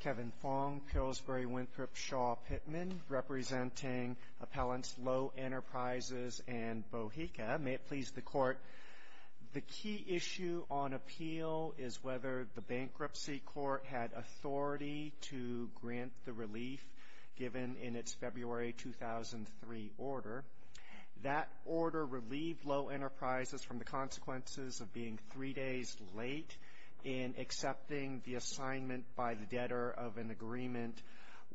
Kevin Fong, Pillsbury-Winthrop, Shaw-Pittman, representing Appellants Low Enterprises and Boheka. May it please the Court, the key issue on appeal is whether the Bankruptcy Court had authority to grant the relief given in its February 2003 order. That order relieved Lowe Enterprises from the consequences of being three days late in accepting the assignment by the debtor of an agreement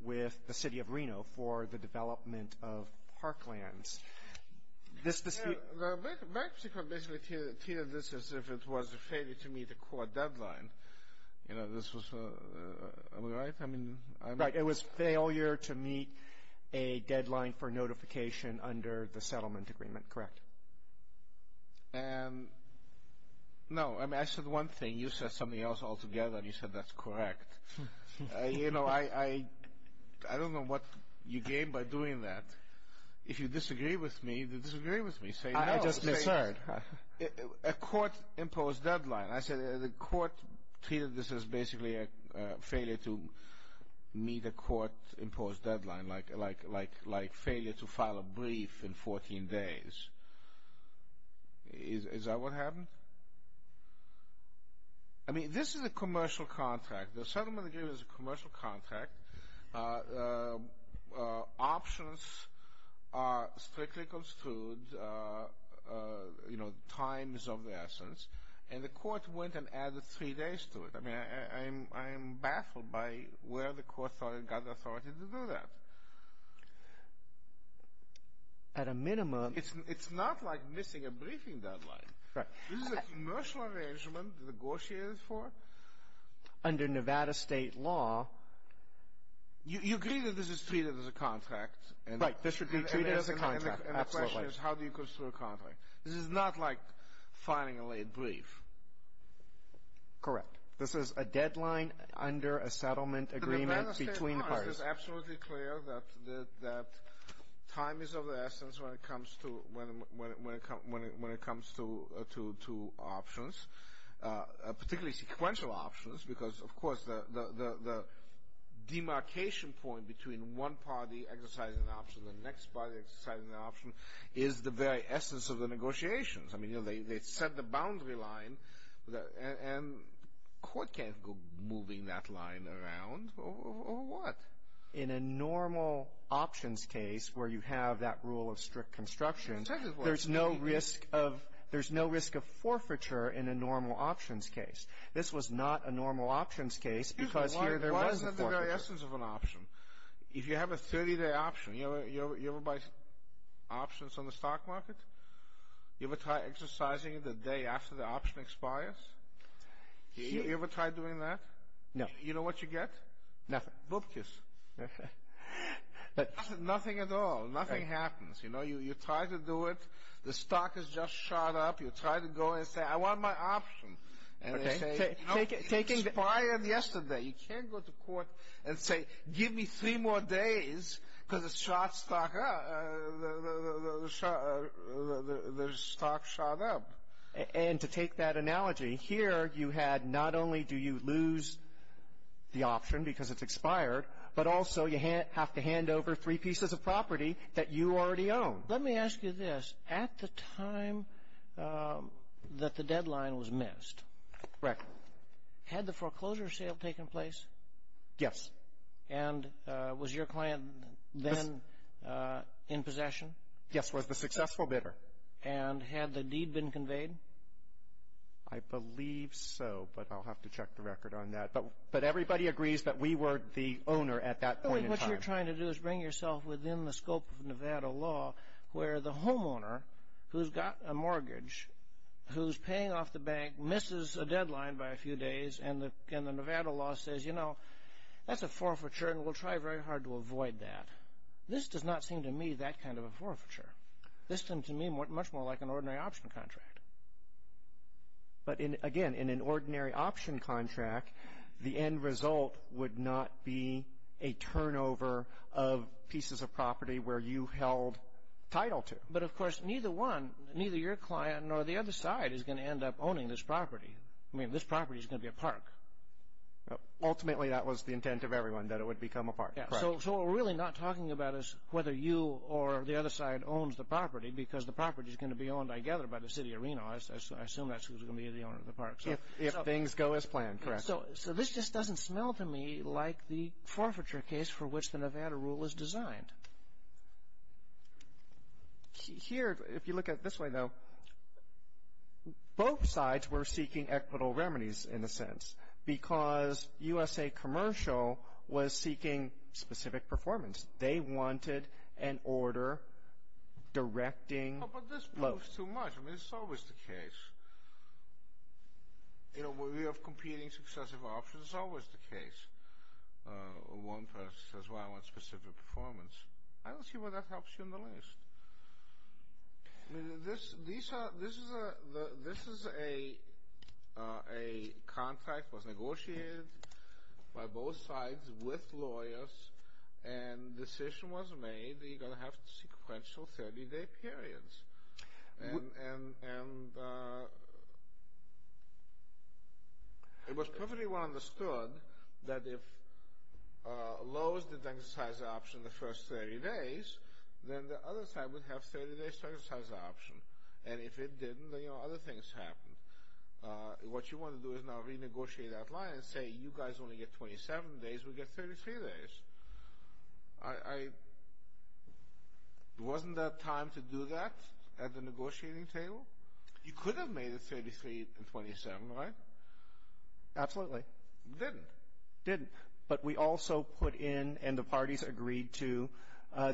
with the City of Reno for the development of parklands. This dispute... The Bankruptcy Court basically treated this as if it was a failure to meet a court deadline. You know, this was a... am I right? I mean... Right. It was failure to meet a deadline for notification under the settlement agreement. Correct. And... no, I mean, I said one thing, you said something else altogether, and you said that's correct. You know, I don't know what you gained by doing that. If you disagree with me, then disagree with me. Say no. I just misheard. A court-imposed deadline. I said the Court treated this as basically a failure to meet a court-imposed deadline, like failure to file a brief in 14 days. Is that what happened? I mean, this is a commercial contract. The settlement agreement is a commercial contract. Options are strictly construed, you know, times of the essence, and the Court went and I mean, I am baffled by where the Court got the authority to do that. At a minimum... It's not like missing a briefing deadline. This is a commercial arrangement negotiated for... ...under Nevada state law. You agree that this is treated as a contract, and... Right. This would be treated as a contract. Absolutely. ...and the question is, how do you construe a contract? This is not like filing a late brief. Correct. This is a deadline under a settlement agreement between parties. And Nevada state law is absolutely clear that time is of the essence when it comes to options, particularly sequential options, because, of course, the demarcation point between one party exercising an option and the next party exercising an option is the very essence of the negotiations. I mean, you know, they set the boundary line, and the Court can't go moving that line around, or what? In a normal options case where you have that rule of strict construction, there's no risk of forfeiture in a normal options case. This was not a normal options case because here there was a forfeiture. Excuse me. Why isn't it the very essence of an option? If you have a 30-day option, you ever try exercising it the day after the option expires? You ever try doing that? No. You know what you get? Nothing. Boob kiss. Nothing. Nothing at all. Nothing happens. You try to do it, the stock has just shot up, you try to go and say, I want my option. And they say, it expired yesterday. You can't go to the stock shot up. And to take that analogy, here you had not only do you lose the option because it's expired, but also you have to hand over three pieces of property that you already own. Let me ask you this. At the time that the deadline was missed, had the foreclosure sale taken place? Yes. And was your client then in possession? Yes, was the successful bidder. And had the deed been conveyed? I believe so, but I'll have to check the record on that. But everybody agrees that we were the owner at that point in time. What you're trying to do is bring yourself within the scope of Nevada law where the homeowner who's got a mortgage, who's paying off the bank, misses a deadline by a few days, and the Nevada law says, you know, that's a forfeiture and we'll try very hard to avoid that. This does not seem to me that kind of a forfeiture. This seemed to me much more like an ordinary option contract. But again, in an ordinary option contract, the end result would not be a turnover of pieces of property where you held title to. But of course, neither one, neither your client nor the other side is going to end up owning this property. I mean, this property is going to be a park. Ultimately, that was the intent of everyone, that it would become a park. So what we're really not talking about is whether you or the other side owns the property because the property is going to be owned, I gather, by the city of Reno. I assume that's who's going to be the owner of the park. If things go as planned, correct. So this just doesn't smell to me like the forfeiture case for which the Nevada rule was designed. Here, if you look at it this way, though, both sides were seeking equitable remedies in a sense, because USA Commercial was seeking specific performance. They wanted an order directing loans. Oh, but this proves too much. I mean, it's always the case. In a way of competing successive options, it's always the case. One person says, well, I want specific performance. I don't see why that helps you in the least. I mean, this is a contract that was negotiated by both sides with lawyers, and the decision was made that you're going to have sequential 30-day periods. And it was perfectly well understood that if Lowe's didn't exercise the option the first 30 days, then the other side would have 30-day exercise option. And if it didn't, then, you know, other things happened. What you want to do is now renegotiate that line and say, you guys only get 27 days. We get 33 days. Wasn't that time to do that at the negotiating table? You could have made it 33 and 27, right? Absolutely. Didn't. But we also put in, and the parties agreed to,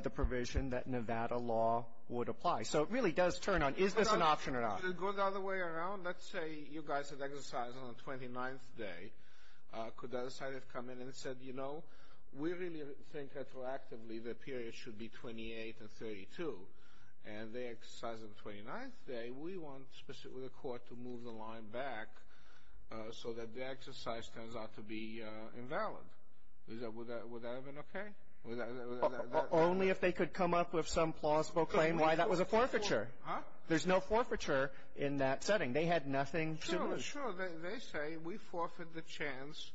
the provision that Nevada law would apply. So it really does turn on, is this an option or not? Could it go the other way around? Let's say you guys have exercised on the 29th day. Could the other side have come in and said, you know, we really think retroactively the period should be 28 and 32. And they exercise on the 29th day. We want specifically the court to move the line back so that the exercise turns out to be invalid. Would that have been okay? Only if they could come up with some plausible claim why that was a forfeiture. There's no forfeiture in that setting. They had nothing to lose. Sure, sure. They say we forfeit the chance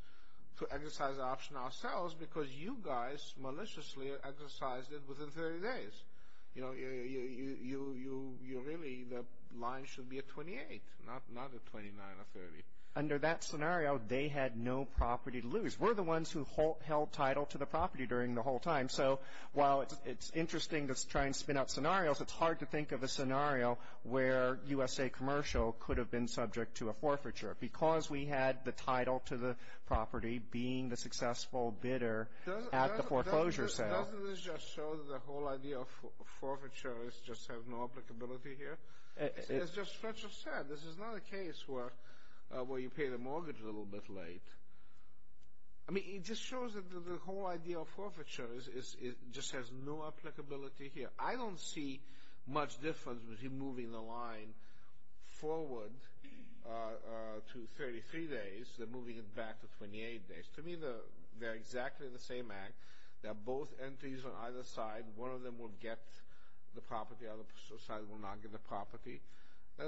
to exercise the option ourselves because you guys maliciously exercised it within 30 days. You know, you really, the line should be at 28, not at 29 or 30. Under that scenario, they had no property to lose. We're the ones who held title to the property during the whole time. So while it's interesting to try and spin out scenarios, it's hard to think of a scenario where USA Commercial could have been subject to a forfeiture because we had the title to the property being the successful bidder at the foreclosure sale. Doesn't this just show that the whole idea of forfeiture just has no applicability here? It's just stretch of sad. This is not a case where you pay the mortgage a little bit late. I mean, it just shows that the whole idea of forfeiture just has no applicability here. I don't see much difference between moving the line forward to 33 days and moving it back to 28 days. To me, they're exactly the same act. They're both entries on either side. One of them will get the property. The other side will not get the property. The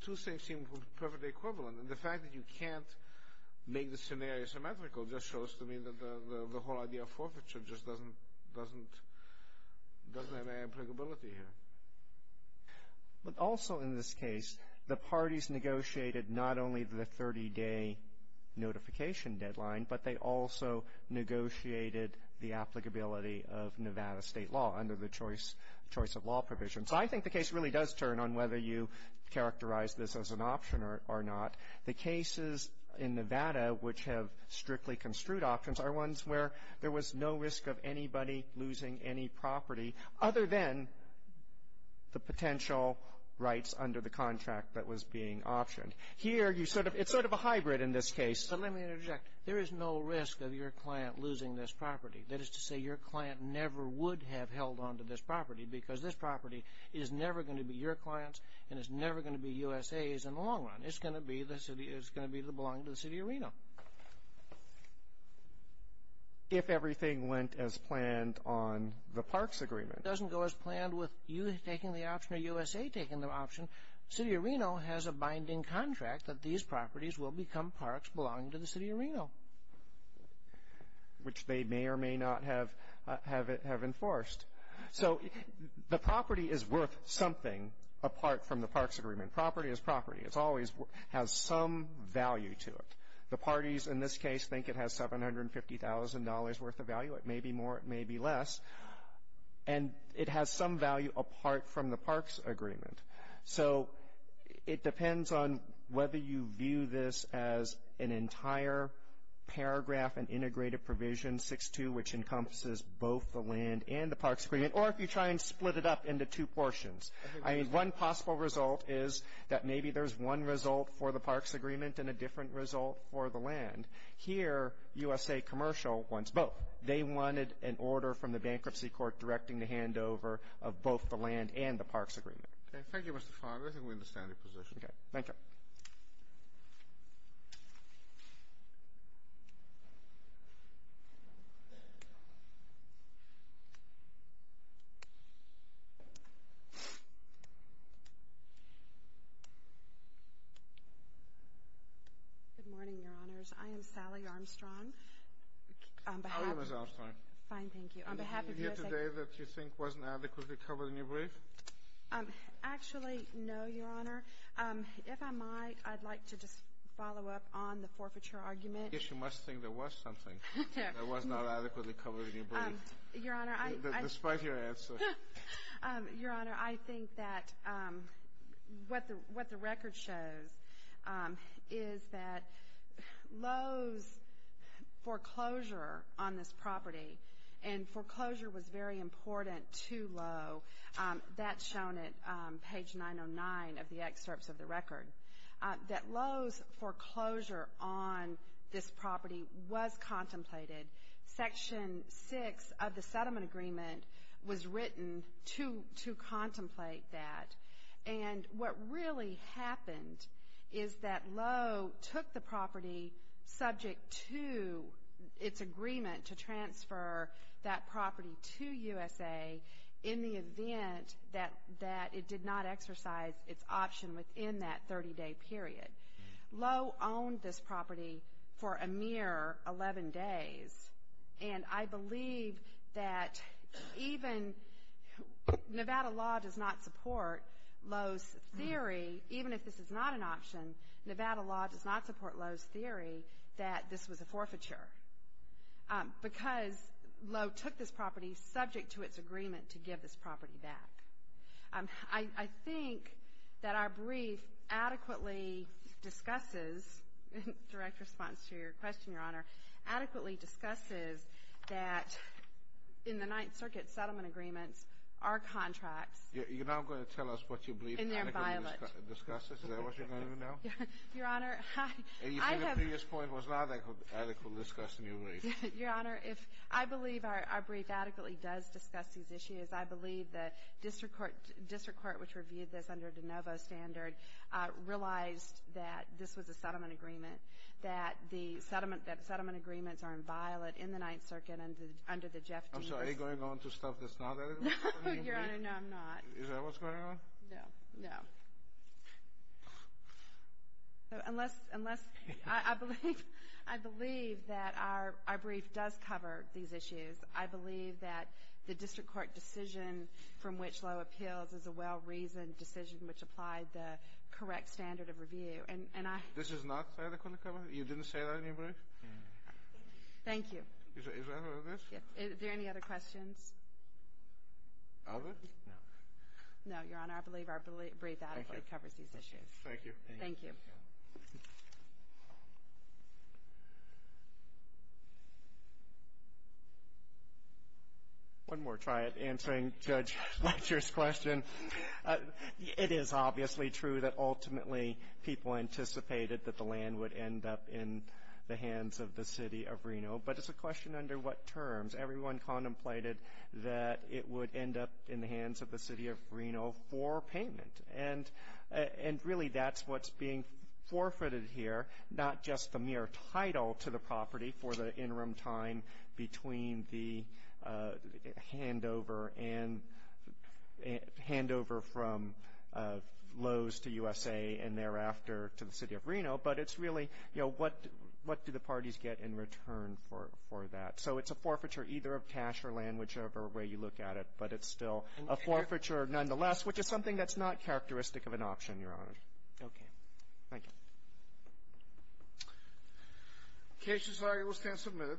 two things seem perfectly equivalent, and the fact that you can't make the scenario symmetrical just shows to me that the whole idea of forfeiture just doesn't have any applicability here. But also in this case, the parties negotiated not only the 30-day notification deadline, but they also negotiated the applicability of Nevada state law under the choice of law provision. So I think the case really does turn on whether you characterize this as an option or not. The cases in Nevada which have strictly construed options are ones where there was no risk of anybody losing any property other than the potential rights under the contract that was being optioned. Here, you sort of — it's sort of a hybrid in this case. But let me interject. There is no risk of your client losing this property. That is to say, your client never would have held on to this property because this property is never going to be your client's and it's never going to be USA's in the long run. It's going to belong to the city of Reno. If everything went as planned on the parks agreement. It doesn't go as planned with you taking the option or USA taking the option. City of Reno has a binding contract that these properties will become parks belonging to the city of Reno, which they may or may not have enforced. So the property is worth something apart from the parks agreement. Property is property. It always has some value to it. The parties in this case think it has $750,000 worth of value. It may be more. It may be less. And it has some value apart from the parks agreement. So it depends on whether you view this as an entire paragraph and integrated provision, 6-2, which encompasses both the land and the parks agreement, or if you try and split it up into two portions. I mean, one possible result is that maybe there's one result for the parks agreement and a different result for the land. Here, USA Commercial wants both. They wanted an order from the bankruptcy court directing the handover of both the land and the parks agreement. Thank you, Mr. Farmer. I think we understand your position. Thank you. Good morning, Your Honors. I am Sally Armstrong. How are you, Ms. Armstrong? Fine, thank you. On behalf of USA- Is there anything here today that you think wasn't adequately covered in your brief? Actually, no, Your Honor. If I might, I'd like to just follow up on the forfeiture argument. Yes, you must think there was something that was not adequately covered in your brief. Your Honor, I- Despite your answer. Your Honor, I think that what the record shows is that Lowe's foreclosure on this property, and foreclosure was very important to Lowe, that's shown at page 909 of the excerpts of the record, that Lowe's foreclosure on this property was contemplated. Section 6 of the settlement agreement was written to contemplate that. And what really happened is that Lowe took the property subject to its agreement to transfer that property to USA in the event that it did not exercise its option within that 30-day period. Lowe owned this property for a mere 11 days, and I believe that even Nevada law does not support Lowe's theory, even if this is not an option, Nevada law does not support Lowe's theory that this was a forfeiture, because Lowe took this property subject to its agreement to give this property back. I think that our brief adequately discusses, in direct response to your question, Your Honor, adequately discusses that in the Ninth Circuit settlement agreements, our contracts- You're not going to tell us what you believe adequately discusses? And they're violent. Is that what you're going to do now? Your Honor, I have- And you think the previous point was not adequately discussed in your brief? Your Honor, I believe our brief adequately does discuss these issues. I believe the district court which reviewed this under de novo standard realized that this was a settlement agreement, that the settlement agreements are violent in the Ninth Circuit under the Jeff D. I'm sorry. Are you going on to stuff that's not- No, Your Honor. No, I'm not. Is that what's going on? No. No. Unless I believe that our brief does cover these issues, I believe that the district court decision from which law appeals is a well-reasoned decision which applied the correct standard of review. And I- This is not adequately covered? You didn't say that in your brief? No. Thank you. Is that what it is? Yes. Are there any other questions? Others? No. No, Your Honor. I believe our brief adequately covers these issues. Thank you. Thank you. Thank you. One more try at answering Judge Lecher's question. It is obviously true that ultimately people anticipated that the land would end up in the hands of the City of Reno, but it's a question under what terms. Everyone contemplated that it would end up in the hands of the City of Reno for payment. And really that's what's being forfeited here, not just the mere title to the property for the interim time between the handover from Lowe's to USA and thereafter to the City of Reno, but it's really, you know, what do the parties get in return for that? So it's a forfeiture either of cash or land, whichever way you look at it, but it's still a forfeiture nonetheless, which is something that's not characteristic of an option, Your Honor. Okay. Thank you. The case is now able to stand for a minute.